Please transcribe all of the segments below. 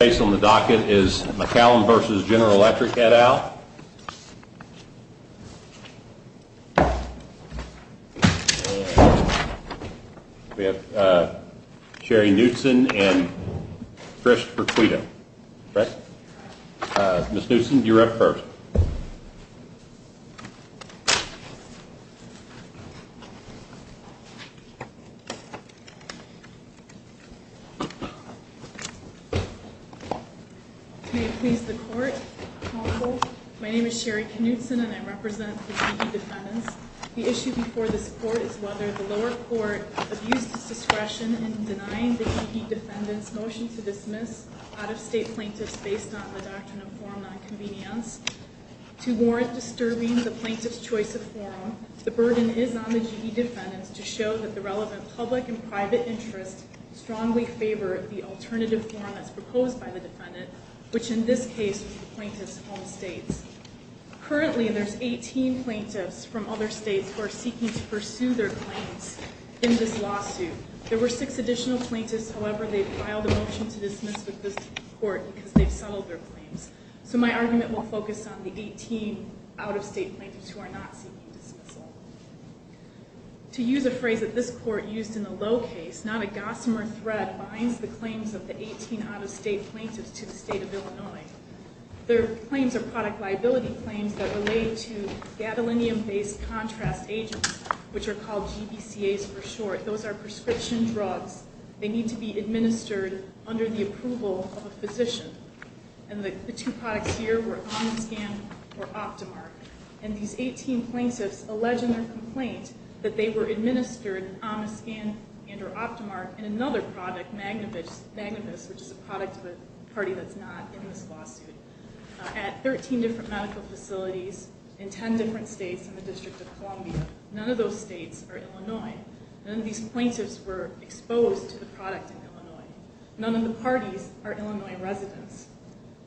Based on the docket is McCallum v. General Electric et al. Sherry Knutson and Chris Requito. Ms. Knutson, you're up first. May it please the court, Honorable, my name is Sherry Knutson and I represent the KE defendants. The issue before this court is whether the lower court abused its discretion in denying the KE defendants' motion to dismiss out-of-state plaintiffs based on the Doctrine of Forum Nonconvenience to warrant disturbing the plaintiffs' choice of forum. The burden is on the KE defendants to show that the relevant public and private interests strongly favor the alternative forum as proposed by the defendant, which in this case was the plaintiffs' home states. Currently, there's 18 plaintiffs from other states who are seeking to pursue their claims in this lawsuit. There were six additional plaintiffs, however, they filed a motion to dismiss with this court because they've settled their claims. So my argument will focus on the 18 out-of-state plaintiffs who are not seeking dismissal. To use a phrase that this court used in the low case, not a gossamer thread binds the claims of the 18 out-of-state plaintiffs to the state of Illinois. Their claims are product liability claims that relate to gadolinium-based contrast agents, which are called GBCAs for short. Those are prescription drugs. They need to be administered under the approval of a physician. And the two products here were Omiscan or Optimart. And these 18 plaintiffs allege in their complaint that they were administered Omiscan and or Optimart in another product, Magnavis, which is a product of a party that's not in this lawsuit, at 13 different medical facilities in 10 different states in the District of Columbia. None of those states are Illinois. None of these plaintiffs were exposed to the product in Illinois. None of the parties are Illinois residents.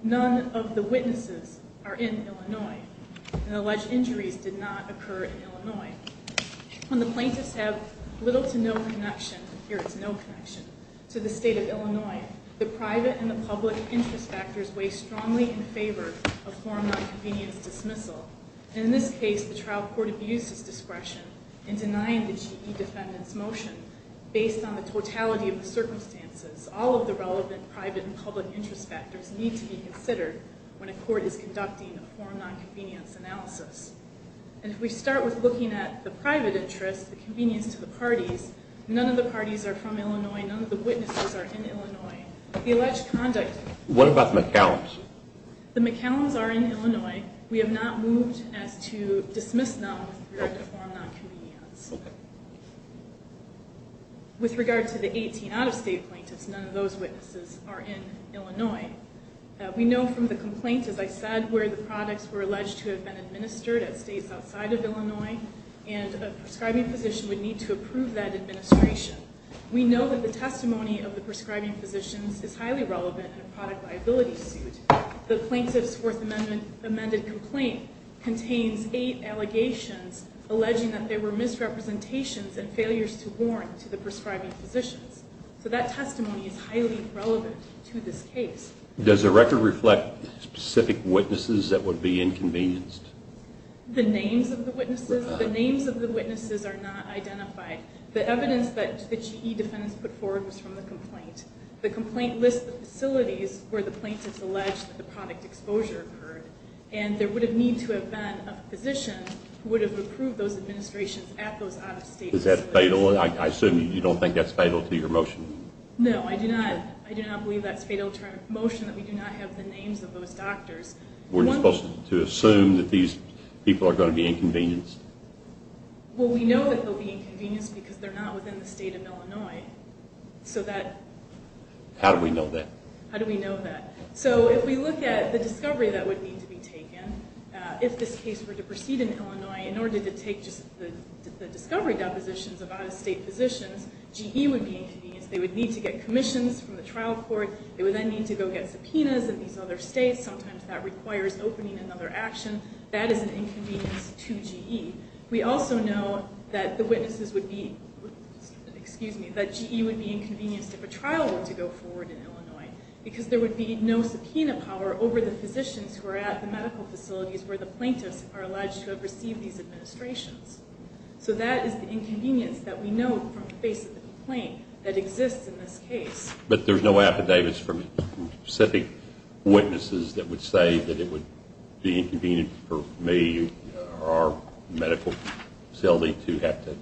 None of the witnesses are in Illinois. And alleged injuries did not occur in Illinois. When the plaintiffs have little to no connection, here it's no connection, to the state of Illinois, the private and the public interest factors weigh strongly in favor of forum nonconvenience dismissal. And in this case, the trial court abused its discretion in denying the GE defendant's motion based on the totality of the circumstances, all of the relevant private and public interest factors need to be considered when a court is conducting a forum nonconvenience analysis. And if we start with looking at the private interest, the convenience to the parties, none of the parties are from Illinois. None of the witnesses are in Illinois. The alleged conduct... What about the McCallums? The McCallums are in Illinois. We have not moved as to dismiss them with regard to forum nonconvenience. Okay. With regard to the 18 out-of-state plaintiffs, none of those witnesses are in Illinois. We know from the complaint, as I said, where the products were alleged to have been administered at states outside of Illinois, and a prescribing physician would need to approve that administration. We know that the testimony of the prescribing physicians is highly relevant in a product liability suit. The plaintiff's Fourth Amendment amended complaint contains eight allegations alleging that there were misrepresentations and failures to warrant to the prescribing physicians. So that testimony is highly relevant to this case. Does the record reflect specific witnesses that would be inconvenienced? The names of the witnesses are not identified. The evidence that the GE defendants put forward was from the complaint. The complaint lists the facilities where the plaintiffs alleged that the product exposure occurred, and there would need to have been a physician who would have approved those administrations at those out-of-state facilities. Is that fatal? I assume you don't think that's fatal to your motion. No, I do not. I do not believe that's fatal to our motion that we do not have the names of those doctors. We're supposed to assume that these people are going to be inconvenienced? Well, we know that they'll be inconvenienced because they're not within the state of Illinois. How do we know that? So if we look at the discovery that would need to be taken, if this case were to proceed in Illinois, in order to take just the discovery depositions of out-of-state physicians, GE would be inconvenienced. They would need to get commissions from the trial court. They would then need to go get subpoenas in these other states. Sometimes that requires opening another action. That is an inconvenience to GE. We also know that the witnesses would be, excuse me, that GE would be inconvenienced if a trial were to go forward in Illinois. Because there would be no subpoena power over the physicians who are at the medical facilities where the plaintiffs are alleged to have received these administrations. So that is the inconvenience that we know from the face of the complaint that exists in this case. But there's no affidavits from specific witnesses that would say that it would be inconvenient for me or our medical facility to have to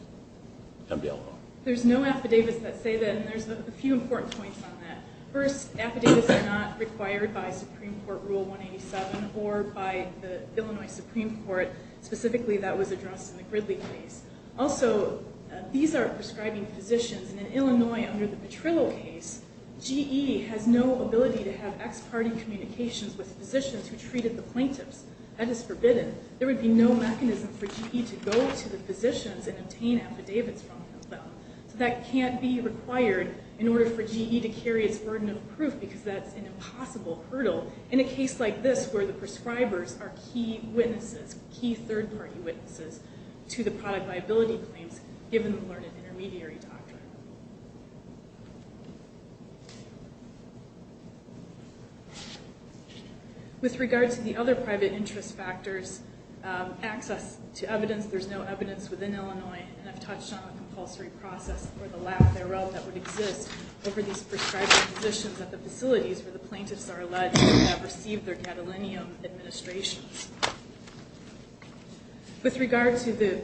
come to Illinois? There's no affidavits that say that, and there's a few important points on that. First, affidavits are not required by Supreme Court Rule 187 or by the Illinois Supreme Court. Specifically, that was addressed in the Gridley case. Also, these are prescribing physicians, and in Illinois, under the Petrillo case, GE has no ability to have ex-parte communications with physicians who treated the plaintiffs. That is forbidden. There would be no mechanism for GE to go to the physicians and obtain affidavits from them. So that can't be required in order for GE to carry its burden of proof, because that's an impossible hurdle in a case like this, where the prescribers are key witnesses, key third-party witnesses, to the product viability claims, given the learned intermediary doctrine. With regard to the other private interest factors, access to evidence, there's no evidence within Illinois, and I've touched on the compulsory process for the lack thereof that would exist over these prescribing physicians at the facilities where the plaintiffs are alleged to have received their gadolinium administrations. With regard to the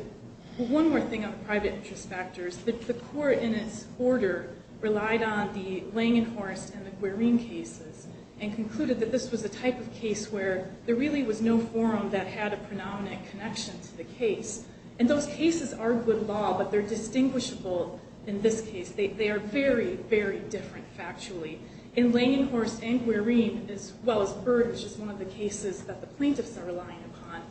one more thing on private interest factors, the court, in its order, relied on the Langenhorst and the Guarine cases, and concluded that this was a type of case where there really was no forum that had a predominant connection to the case. And those cases are good law, but they're distinguishable in this case. They are very, very different, factually. In Langenhorst and Guarine, as well as Bird, which is one of the cases that the plaintiffs are relying upon,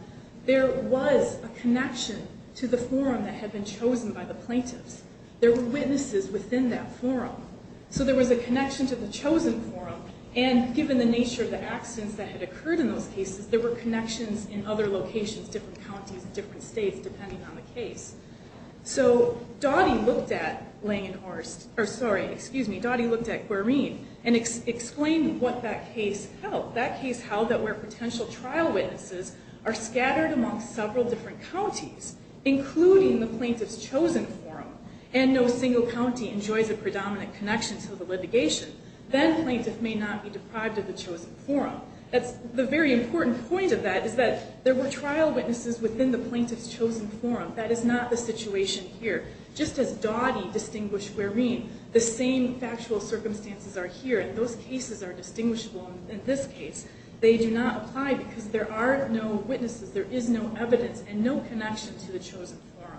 there was a connection to the forum that had been chosen by the plaintiffs. There were witnesses within that forum. So there was a connection to the chosen forum, and given the nature of the accidents that had occurred in those cases, there were connections in other locations, different counties, different states, depending on the case. So Dottie looked at Guarine and explained what that case held. That case held that where potential trial witnesses are scattered among several different counties, including the plaintiff's chosen forum, and no single county enjoys a predominant connection to the litigation, then the plaintiff may not be deprived of the chosen forum. The very important point of that is that there were trial witnesses within the plaintiff's chosen forum. That is not the situation here. Just as Dottie distinguished Guarine, the same factual circumstances are here, and those cases are distinguishable in this case. They do not apply because there are no witnesses, there is no evidence, and no connection to the chosen forum.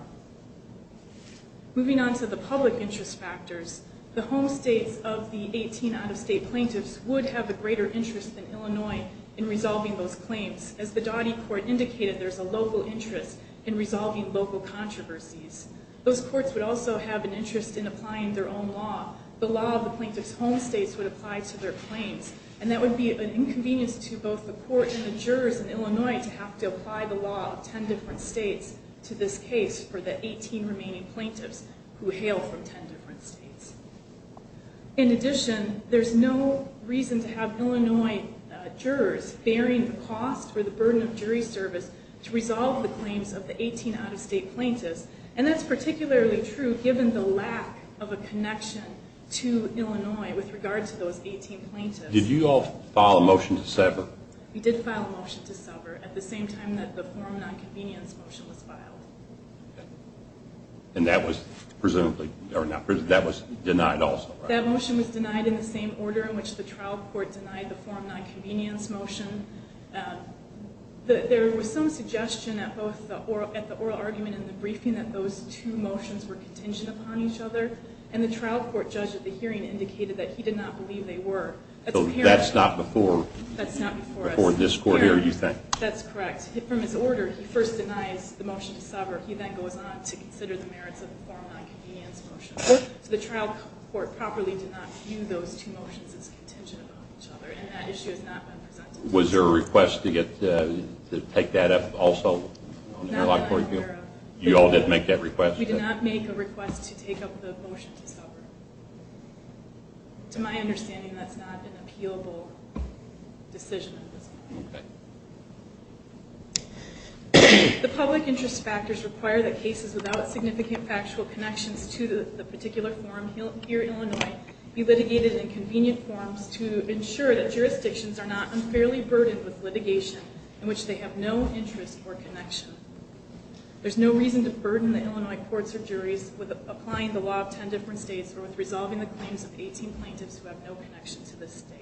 Moving on to the public interest factors, the home states of the 18 out-of-state plaintiffs would have a greater interest than Illinois in resolving those claims. As the Dottie court indicated, there is a local interest in resolving local controversies. Those courts would also have an interest in applying their own law. The law of the plaintiff's home states would apply to their claims, and that would be an inconvenience to both the court and the jurors in Illinois to have to apply the law of 10 different states to this case for the 18 remaining plaintiffs who hail from 10 different states. In addition, there is no reason to have Illinois jurors bearing the cost or the burden of jury service to resolve the claims of the 18 out-of-state plaintiffs, and that is particularly true given the lack of a connection to Illinois with regard to those 18 plaintiffs. Did you all file a motion to sever? We did file a motion to sever at the same time that the forum nonconvenience motion was filed. And that was presumably denied also, right? That motion was denied in the same order in which the trial court denied the forum nonconvenience motion. There was some suggestion at the oral argument in the briefing that those two motions were contingent upon each other, and the trial court judge at the hearing indicated that he did not believe they were. So that's not before this court hearing, you think? That's correct. From his order, he first denies the motion to sever. He then goes on to consider the merits of the forum nonconvenience motion. So the trial court properly did not view those two motions as contingent upon each other, and that issue has not been presented. Was there a request to take that up also on the interlock court hearing? No, not that I'm aware of. You all didn't make that request? We did not make a request to take up the motion to sever. To my understanding, that's not an appealable decision at this point. Okay. The public interest factors require that cases without significant factual connections to the particular forum here at Illinois be litigated in convenient forms to ensure that jurisdictions are not unfairly burdened with litigation in which they have no interest or connection. There's no reason to burden the Illinois courts or juries with applying the law of 10 different states or with resolving the claims of 18 plaintiffs who have no connection to this state.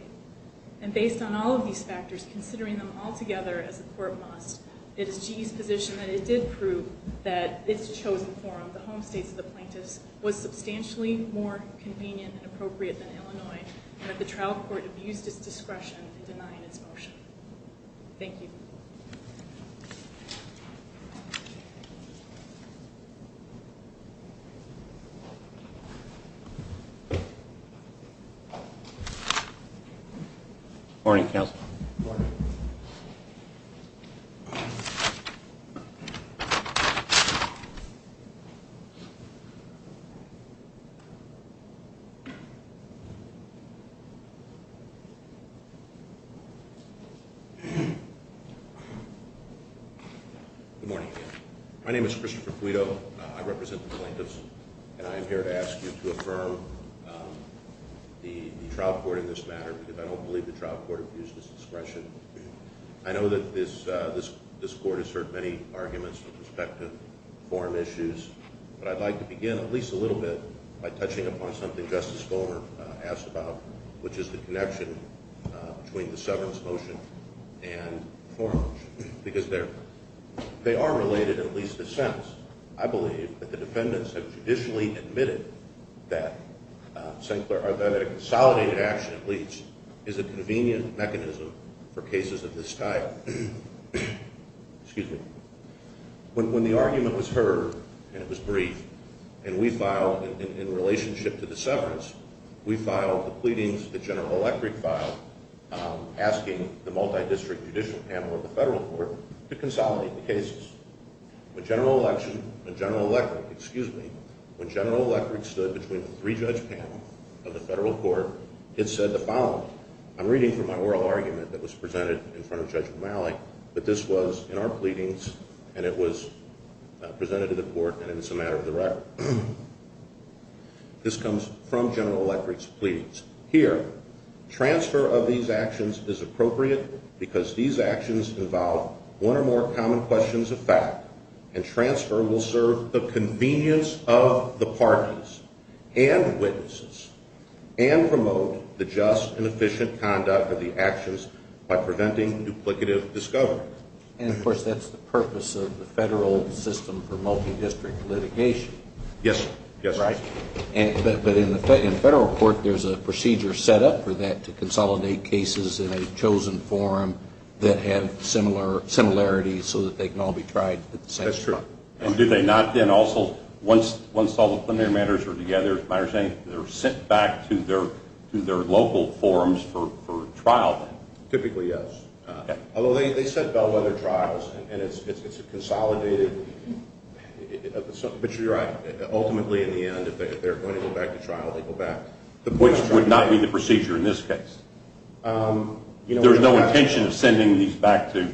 And based on all of these factors, considering them all together as a court must, it is GE's position that it did prove that its chosen forum, the home states of the plaintiffs, was substantially more convenient and appropriate than Illinois, and that the trial court abused its discretion in denying its motion. Thank you. Thank you. Morning, counsel. Morning. Good morning. My name is Christopher Puido. I represent the plaintiffs, and I am here to ask you to affirm the trial court in this matter because I don't believe the trial court abused its discretion. I know that this court has heard many arguments with respect to forum issues, but I'd like to begin at least a little bit by touching upon something Justice Goldberg asked about, which is the connection between the severance motion and the forum motion because they are related in at least a sense. I believe that the defendants have judicially admitted that a consolidated action, at least, is a convenient mechanism for cases of this style. When the argument was heard, and it was brief, and we filed in relationship to the severance, we filed the pleadings that General Electric filed asking the multidistrict judicial panel of the federal court to consolidate the cases. When General Electric stood between the three-judge panel of the federal court, it said the following. I'm reading from my oral argument that was presented in front of Judge O'Malley, but this was in our pleadings, and it was presented to the court, and it's a matter of the record. This comes from General Electric's pleadings. Here, transfer of these actions is appropriate because these actions involve one or more common questions of fact, and transfer will serve the convenience of the parties and witnesses and promote the just and efficient conduct of the actions by preventing duplicative discovery. And, of course, that's the purpose of the federal system for multidistrict litigation. Yes. Right? But in the federal court, there's a procedure set up for that, to consolidate cases in a chosen forum that have similarities so that they can all be tried at the same time. That's true. And do they not then also, once all the preliminary matters are together, they're sent back to their local forums for trial? Typically, yes. Although they set bellwether trials, and it's a consolidated, but you're right. Ultimately, in the end, if they're going to go back to trial, they go back. Which would not be the procedure in this case. There's no intention of sending these back to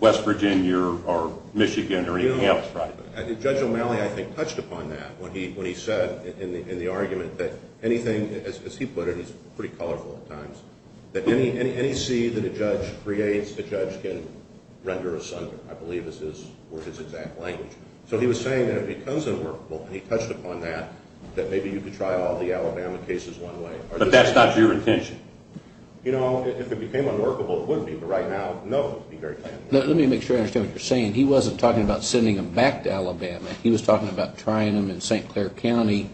West Virginia or Michigan or anything else, right? No. Judge O'Malley, I think, touched upon that when he said in the argument that anything, as he put it, and I think it's pretty colorful at times, that any seed that a judge creates, a judge can render asunder, I believe, is his exact language. So he was saying that if it becomes unworkable, and he touched upon that, that maybe you could try all the Alabama cases one way. But that's not your intention. You know, if it became unworkable, it would be, but right now, no. Let me make sure I understand what you're saying. He wasn't talking about sending them back to Alabama. He was talking about trying them in St. Clair County,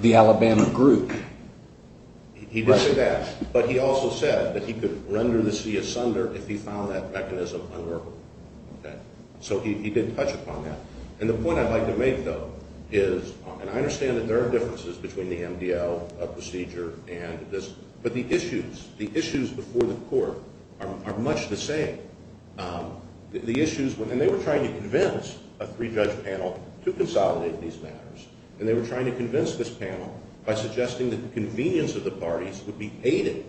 the Alabama group. He did say that. But he also said that he could render the seed asunder if he found that mechanism unworkable. So he did touch upon that. And the point I'd like to make, though, is, and I understand that there are differences between the MDL procedure and this, but the issues, the issues before the court are much the same. The issues, and they were trying to convince a three-judge panel to consolidate these matters. And they were trying to convince this panel by suggesting that the convenience of the parties would be aided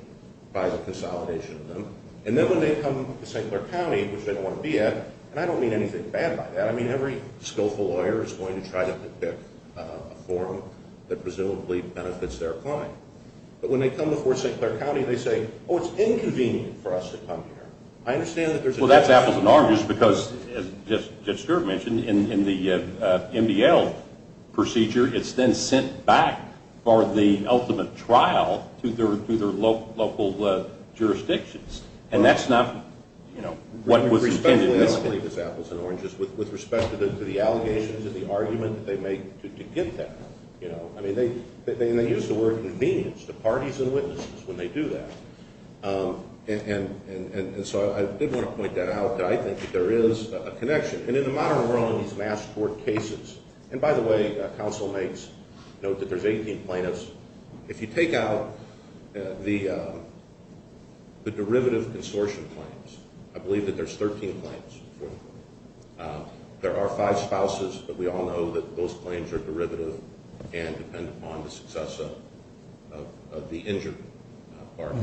by the consolidation of them. And then when they come to St. Clair County, which they don't want to be at, and I don't mean anything bad by that. I mean, every skillful lawyer is going to try to pick a forum that presumably benefits their client. But when they come before St. Clair County, they say, oh, it's inconvenient for us to come here. I understand that there's a difference. Well, that's apples and oranges because, as Judge Stewart mentioned, in the MDL procedure, it's then sent back for the ultimate trial to their local jurisdictions. And that's not, you know, what was intended. I don't believe it's apples and oranges with respect to the allegations and the argument that they make to get that. I mean, they use the word convenience to parties and witnesses when they do that. And so I did want to point that out that I think that there is a connection. And in the modern world in these mass court cases, and by the way, councilmates, note that there's 18 plaintiffs. If you take out the derivative consortium claims, I believe that there's 13 claims. There are five spouses, but we all know that those claims are derivative and depend upon the success of the injured party.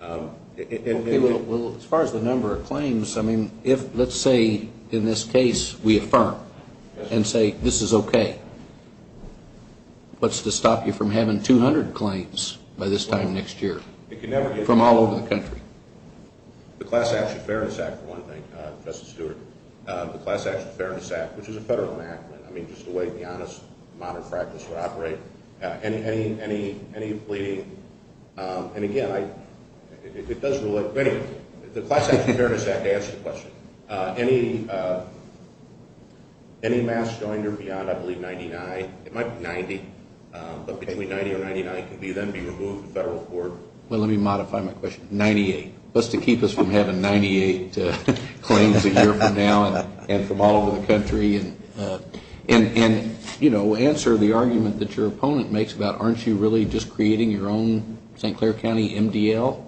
Well, as far as the number of claims, I mean, if, let's say, in this case, we affirm and say this is okay, what's to stop you from having 200 claims by this time next year from all over the country? The Class Action Fairness Act, for one thing, Justice Stewart, the Class Action Fairness Act, which is a federal act, I mean, just the way the honest modern practice would operate, any pleading. And again, it does relate. But anyway, the Class Action Fairness Act answers the question. Any mass joiner beyond, I believe, 99, it might be 90, but between 90 or 99 can be then be removed to federal court. Well, let me modify my question, 98. What's to keep us from having 98 claims a year from now and from all over the country? And, you know, answer the argument that your opponent makes about aren't you really just creating your own St. Clair County MDL?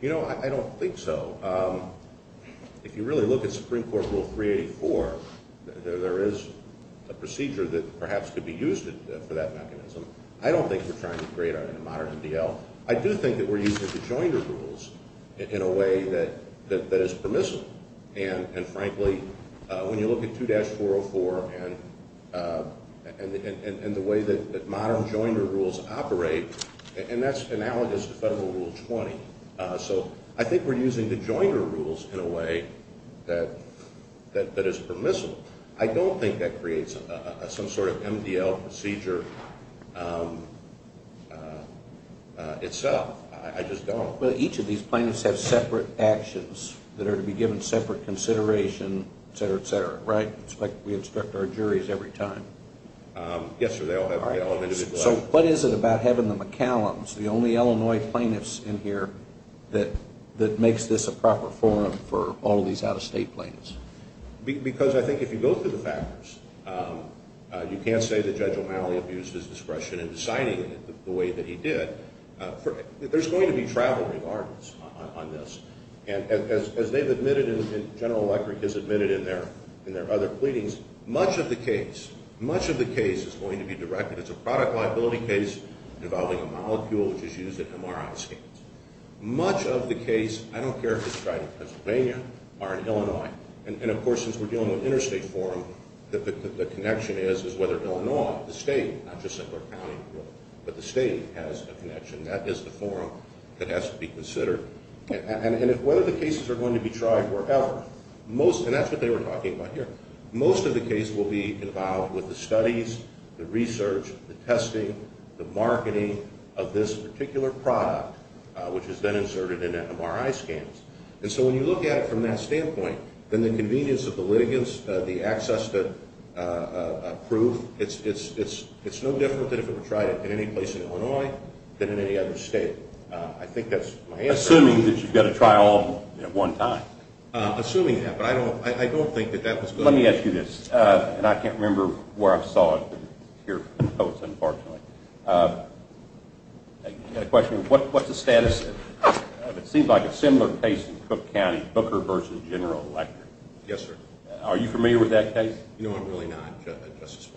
You know, I don't think so. If you really look at Supreme Court Rule 384, there is a procedure that perhaps could be used for that mechanism. I don't think you're trying to create a modern MDL. I do think that we're using the joiner rules in a way that is permissible. And, frankly, when you look at 2-404 and the way that modern joiner rules operate, and that's analogous to Federal Rule 20. So I think we're using the joiner rules in a way that is permissible. I don't think that creates some sort of MDL procedure itself. I just don't. Well, each of these plaintiffs have separate actions that are to be given separate consideration, et cetera, et cetera, right? It's like we instruct our juries every time. Yes, sir, they all have their own individual actions. So what is it about having the McCallums, the only Illinois plaintiffs in here, that makes this a proper forum for all these out-of-state plaintiffs? Because I think if you go through the factors, you can't say that Judge O'Malley abused his discretion in deciding it the way that he did. There's going to be travel regards on this. And as they've admitted and General Electric has admitted in their other pleadings, much of the case, much of the case is going to be directed. It's a product liability case involving a molecule which is used at MRI scans. Much of the case, I don't care if it's right in Pennsylvania or in Illinois, and, of course, since we're dealing with interstate forum, the connection is is whether Illinois, the state, not just Simpler County, but the state has a connection. That is the forum that has to be considered. And whether the cases are going to be tried wherever, most, and that's what they were talking about here, most of the case will be involved with the studies, the research, the testing, the marketing of this particular product, which is then inserted in MRI scans. And so when you look at it from that standpoint, then the convenience of the litigants, the access to proof, it's no different than if it were tried in any place in Illinois than in any other state. I think that's my answer. Assuming that you've got to try all of them at one time. Assuming that. But I don't think that that was good. Let me ask you this. And I can't remember where I saw it here, unfortunately. A question, what's the status of, it seems like a similar case in Cook County, Booker v. General Electric. Yes, sir. Are you familiar with that case? No, I'm really not, Justice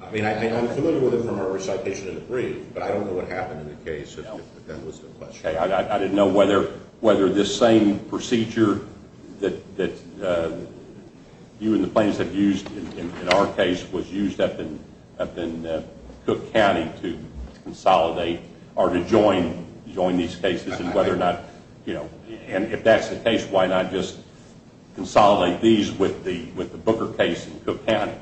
Wallenberg. I mean, I'm familiar with it from our recitation of the brief, but I don't know what happened in the case if that was the question. I didn't know whether this same procedure that you and the plaintiffs have used in our case was used up in Cook County to consolidate or to join these cases. And if that's the case, why not just consolidate these with the Booker case in Cook County?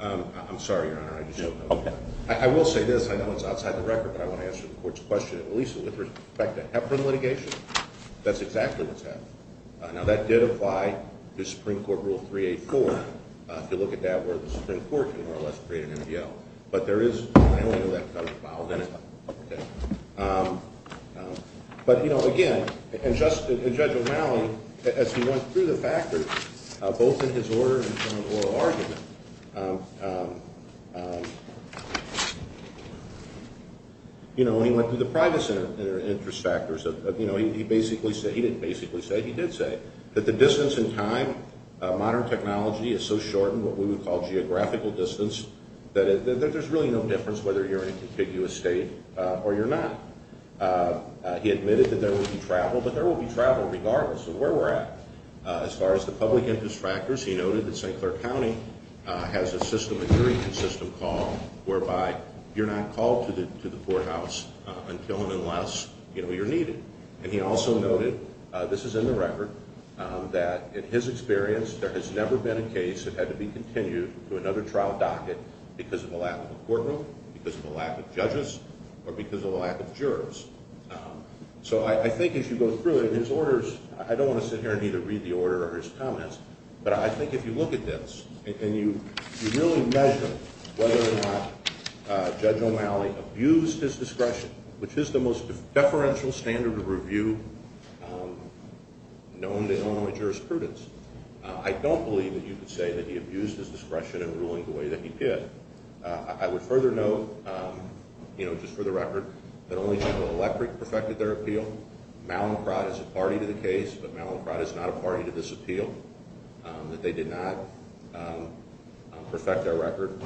I'm sorry, Your Honor. I will say this. I know it's outside the record, but I want to answer the court's question. At least with respect to Heparin litigation, that's exactly what's happened. Now, that did apply to Supreme Court Rule 384. If you look at that, where the Supreme Court can more or less create an MDL. But there is, I only know that because I was involved in it. But, you know, again, and Judge O'Malley, as he went through the factors, both in his order and his oral argument, you know, he went through the private interest factors. You know, he basically said, he didn't basically say, he did say that the distance in time, modern technology is so shortened, what we would call geographical distance, that there's really no difference whether you're in a contiguous state or you're not. He admitted that there will be travel, but there will be travel regardless of where we're at. As far as the public interest factors, he noted that St. Clair County has a system, a very consistent call, whereby you're not called to the courthouse until and unless, you know, you're needed. And he also noted, this is in the record, that in his experience, there has never been a case that had to be continued to another trial docket because of a lack of a courtroom, because of a lack of judges, or because of a lack of jurors. So I think as you go through it, his orders, I don't want to sit here and either read the order or his comments, but I think if you look at this and you really measure whether or not Judge O'Malley abused his discretion, which is the most deferential standard of review known to Illinois jurisprudence, I don't believe that you could say that he abused his discretion in ruling the way that he did. I would further note, you know, just for the record, that only General Electric perfected their appeal. Mallinckrodt is a party to the case, but Mallinckrodt is not a party to this appeal, that they did not perfect their record.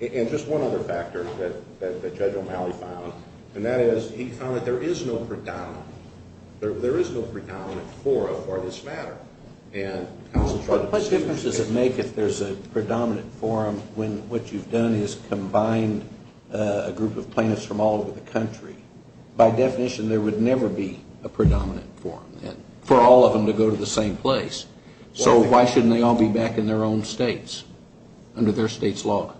And just one other factor that Judge O'Malley found, and that is he found that there is no predominant. There is no predominant forum for this matter. What difference does it make if there's a predominant forum when what you've done is combined a group of plaintiffs from all over the country? By definition, there would never be a predominant forum then for all of them to go to the same place. So why shouldn't they all be back in their own states under their state's law?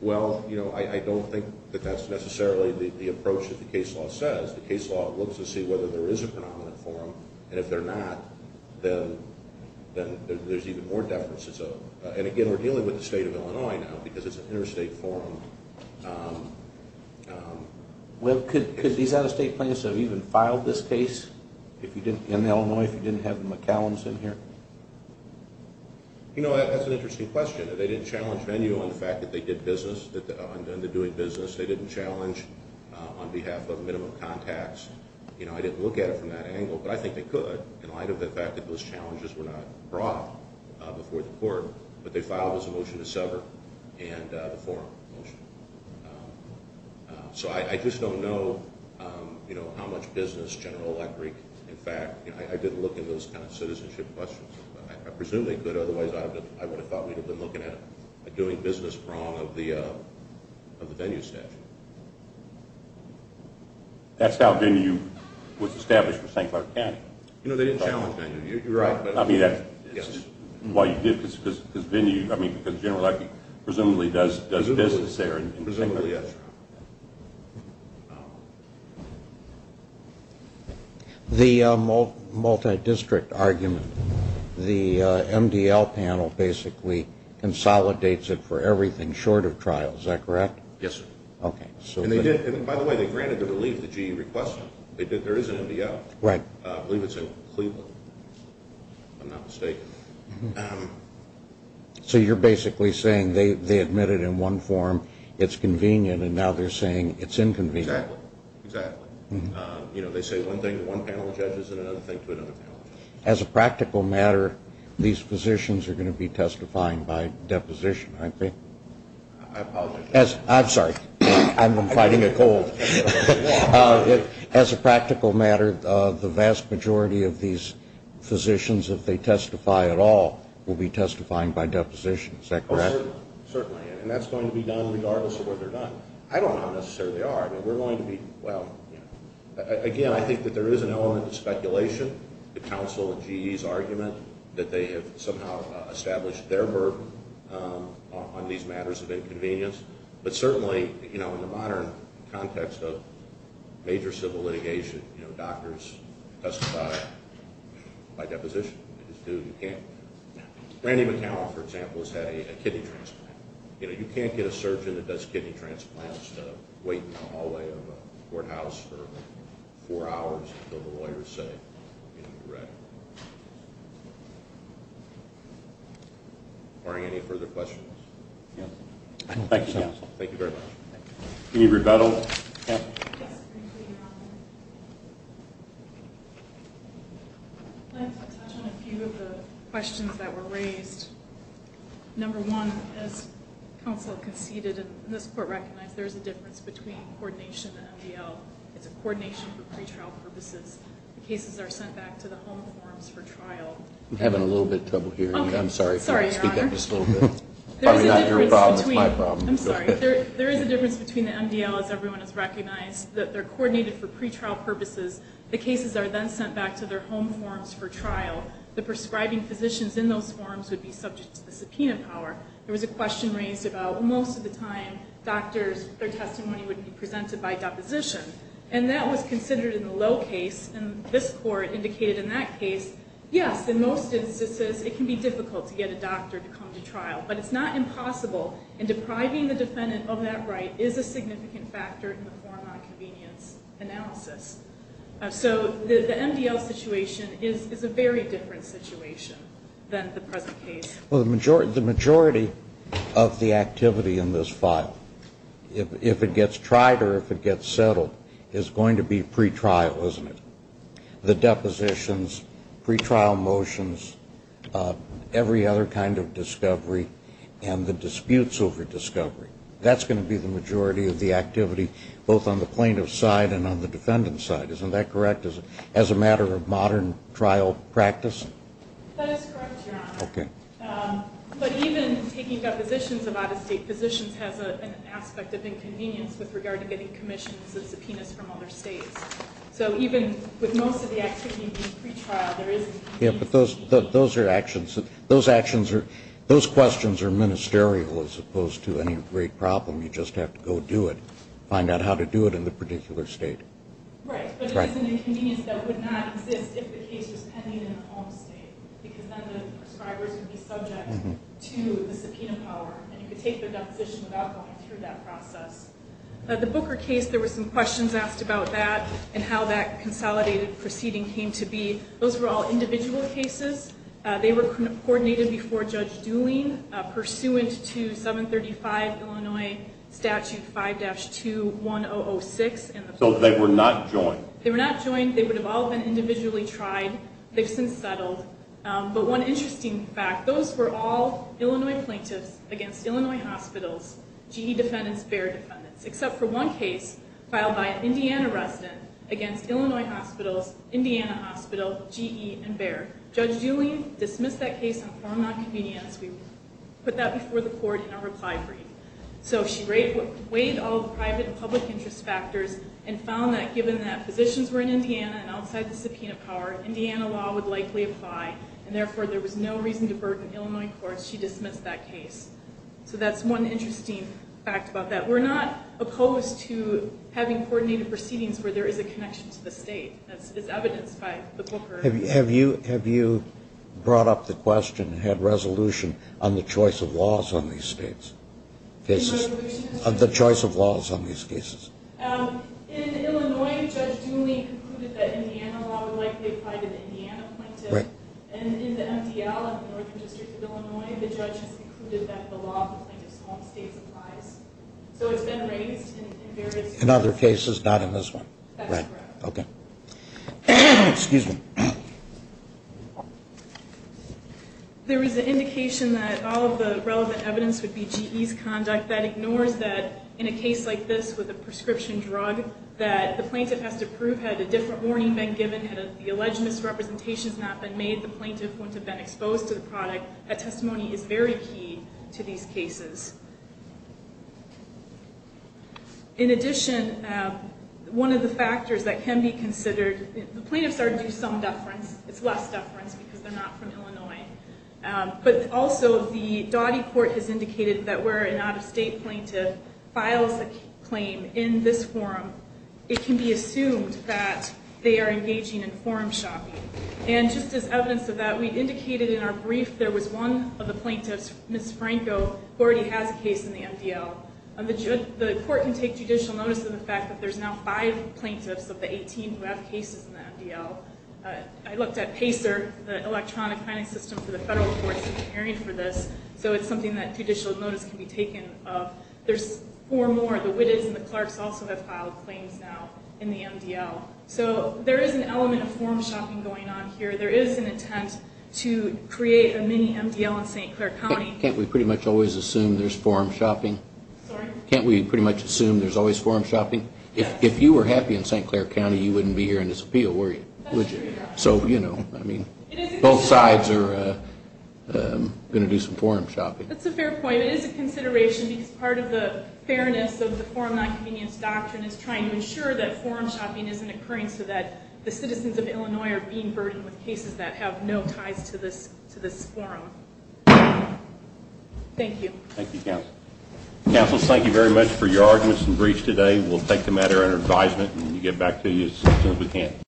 Well, you know, I don't think that that's necessarily the approach that the case law says. The case law looks to see whether there is a predominant forum, and if there's not, then there's even more deference. And again, we're dealing with the state of Illinois now because it's an interstate forum. Well, could these out-of-state plaintiffs have even filed this case in Illinois if you didn't have the McCallums in here? You know, that's an interesting question. They didn't challenge venue on the fact that they did business, that they're doing business. They didn't challenge on behalf of minimum contacts. You know, I didn't look at it from that angle, but I think they could in light of the fact that those challenges were not brought before the court. But they filed as a motion to sever and the forum motion. So I just don't know, you know, how much business General Electric, in fact, you know, I didn't look at those kind of citizenship questions. I presumably could, otherwise I would have thought we would have been looking at doing business wrong of the venue statute. That's how venue was established for St. Clark County. You know, they didn't challenge venue. You're right. I mean, that's why you did, because venue, I mean, because General Electric presumably does business there. Presumably, yes. Yes, sir. The multi-district argument, the MDL panel basically consolidates it for everything short of trial. Is that correct? Yes, sir. Okay. And by the way, they granted the relief that you requested. There is an MDL. Right. I believe it's in Cleveland, if I'm not mistaken. So you're basically saying they admitted in one forum it's convenient and now they're saying it's inconvenient. Exactly. Exactly. You know, they say one thing to one panel of judges and another thing to another panel of judges. As a practical matter, these physicians are going to be testifying by deposition, aren't they? I apologize. I'm sorry. I'm fighting a cold. As a practical matter, the vast majority of these physicians, if they testify at all, will be testifying by deposition. Is that correct? Certainly. And that's going to be done regardless of where they're done. I don't know how necessary they are. I mean, we're going to be, well, you know, again, I think that there is an element of speculation. The council and GE's argument that they have somehow established their burden on these matters of inconvenience. But certainly, you know, in the modern context of major civil litigation, you know, doctors testify by deposition. They just do. You can't. Randy McAllen, for example, has had a kidney transplant. You know, you can't get a surgeon that does kidney transplants to wait in the hallway of a courthouse for four hours until the lawyers say, you know, you're ready. Are there any further questions? No. Thank you, counsel. Thank you very much. Any rebuttal? Yes. I just want to touch on a few of the questions that were raised. Number one, as counsel conceded, and this court recognized, there is a difference between coordination and MDL. It's a coordination for pretrial purposes. The cases are sent back to the home forms for trial. I'm having a little bit of trouble hearing you. I'm sorry. Speak up just a little bit. Probably not your problem. It's my problem. I'm sorry. There is a difference between the MDL, as everyone has recognized, that they're coordinated for pretrial purposes. The cases are then sent back to their home forms for trial. The prescribing physicians in those forms would be subject to the subpoena power. There was a question raised about most of the time, doctors, their testimony would be presented by deposition. And that was considered in the low case. And this court indicated in that case, yes, in most instances it can be difficult to get a doctor to come to trial. But it's not impossible. And depriving the defendant of that right is a significant factor in the form-on-convenience analysis. So the MDL situation is a very different situation than the present case. Well, the majority of the activity in this file, if it gets tried or if it gets settled, is going to be pretrial, isn't it? The depositions, pretrial motions, every other kind of discovery, and the disputes over discovery. That's going to be the majority of the activity, both on the plaintiff's side and on the defendant's side. Isn't that correct, as a matter of modern trial practice? That is correct, Your Honor. Okay. But even taking depositions of out-of-state positions has an aspect of inconvenience with regard to getting commissions and subpoenas from other states. So even with most of the activity being pretrial, there is an inconvenience. Yeah, but those are actions. Those questions are ministerial as opposed to any great problem. You just have to go do it, find out how to do it in the particular state. Right, but it's an inconvenience that would not exist if the case was pending in a home state because then the prescribers would be subject to the subpoena power and you could take their deposition without going through that process. The Booker case, there were some questions asked about that and how that consolidated proceeding came to be. Those were all individual cases. They were coordinated before Judge Dooling pursuant to 735 Illinois Statute 5-2-1006. So they were not joined. They were not joined. They would have all been individually tried. They've since settled. But one interesting fact, those were all Illinois plaintiffs against Illinois hospitals, GE defendants, BEAR defendants, except for one case filed by an Indiana resident against Illinois hospitals, Indiana hospitals, GE, and BEAR. Judge Dooling dismissed that case and formed that convenience. We put that before the court in our reply brief. So she weighed all the private and public interest factors and found that given that physicians were in Indiana and outside the subpoena power, Indiana law would likely apply, and therefore there was no reason to burden Illinois courts. She dismissed that case. So that's one interesting fact about that. We're not opposed to having coordinated proceedings where there is a connection to the state. That's evidenced by the Booker. Have you brought up the question, had resolution on the choice of laws on these cases? The resolution? The choice of laws on these cases. In Illinois, Judge Dooling concluded that Indiana law would likely apply to the Indiana plaintiff. And in the MDL of the Northern District of Illinois, the judge has concluded that the law of the plaintiff's home states applies. So it's been raised in various cases. In other cases, not in this one. That's correct. Okay. Excuse me. There is an indication that all of the relevant evidence would be GE's conduct that ignores that in a case like this with a prescription drug that the plaintiff has to prove had a different warning been given, had the alleged misrepresentations not been made, the plaintiff wouldn't have been exposed to the product. That testimony is very key to these cases. In addition, one of the factors that can be considered, the plaintiffs are due some deference. It's less deference because they're not from Illinois. But also, the Dottie Court has indicated that where an out-of-state plaintiff files a claim in this forum, it can be assumed that they are engaging in forum shopping. And just as evidence of that, we indicated in our brief there was one of the plaintiffs, Ms. Franco, who already has a case in the MDL. The court can take judicial notice of the fact that there's now five plaintiffs of the 18 who have cases in the MDL. I looked at PACER, the electronic filing system for the federal courts that are preparing for this. So it's something that judicial notice can be taken of. There's four more. The Whittes and the Clarks also have filed claims now in the MDL. So there is an element of forum shopping going on here. There is an intent to create a mini-MDL in St. Clair County. Can't we pretty much always assume there's forum shopping? Sorry? Can't we pretty much assume there's always forum shopping? If you were happy in St. Clair County, you wouldn't be here in this appeal, would you? So, you know, both sides are going to do some forum shopping. That's a fair point. It is a consideration because part of the fairness of the forum nonconvenience doctrine is trying to ensure that forum shopping isn't occurring so that the citizens of Illinois are being burdened with cases that have no ties to this forum. Thank you. Thank you, Counsel. Counsel, thank you very much for your arguments and briefs today. We'll take the matter under advisement and we'll get back to you as soon as we can.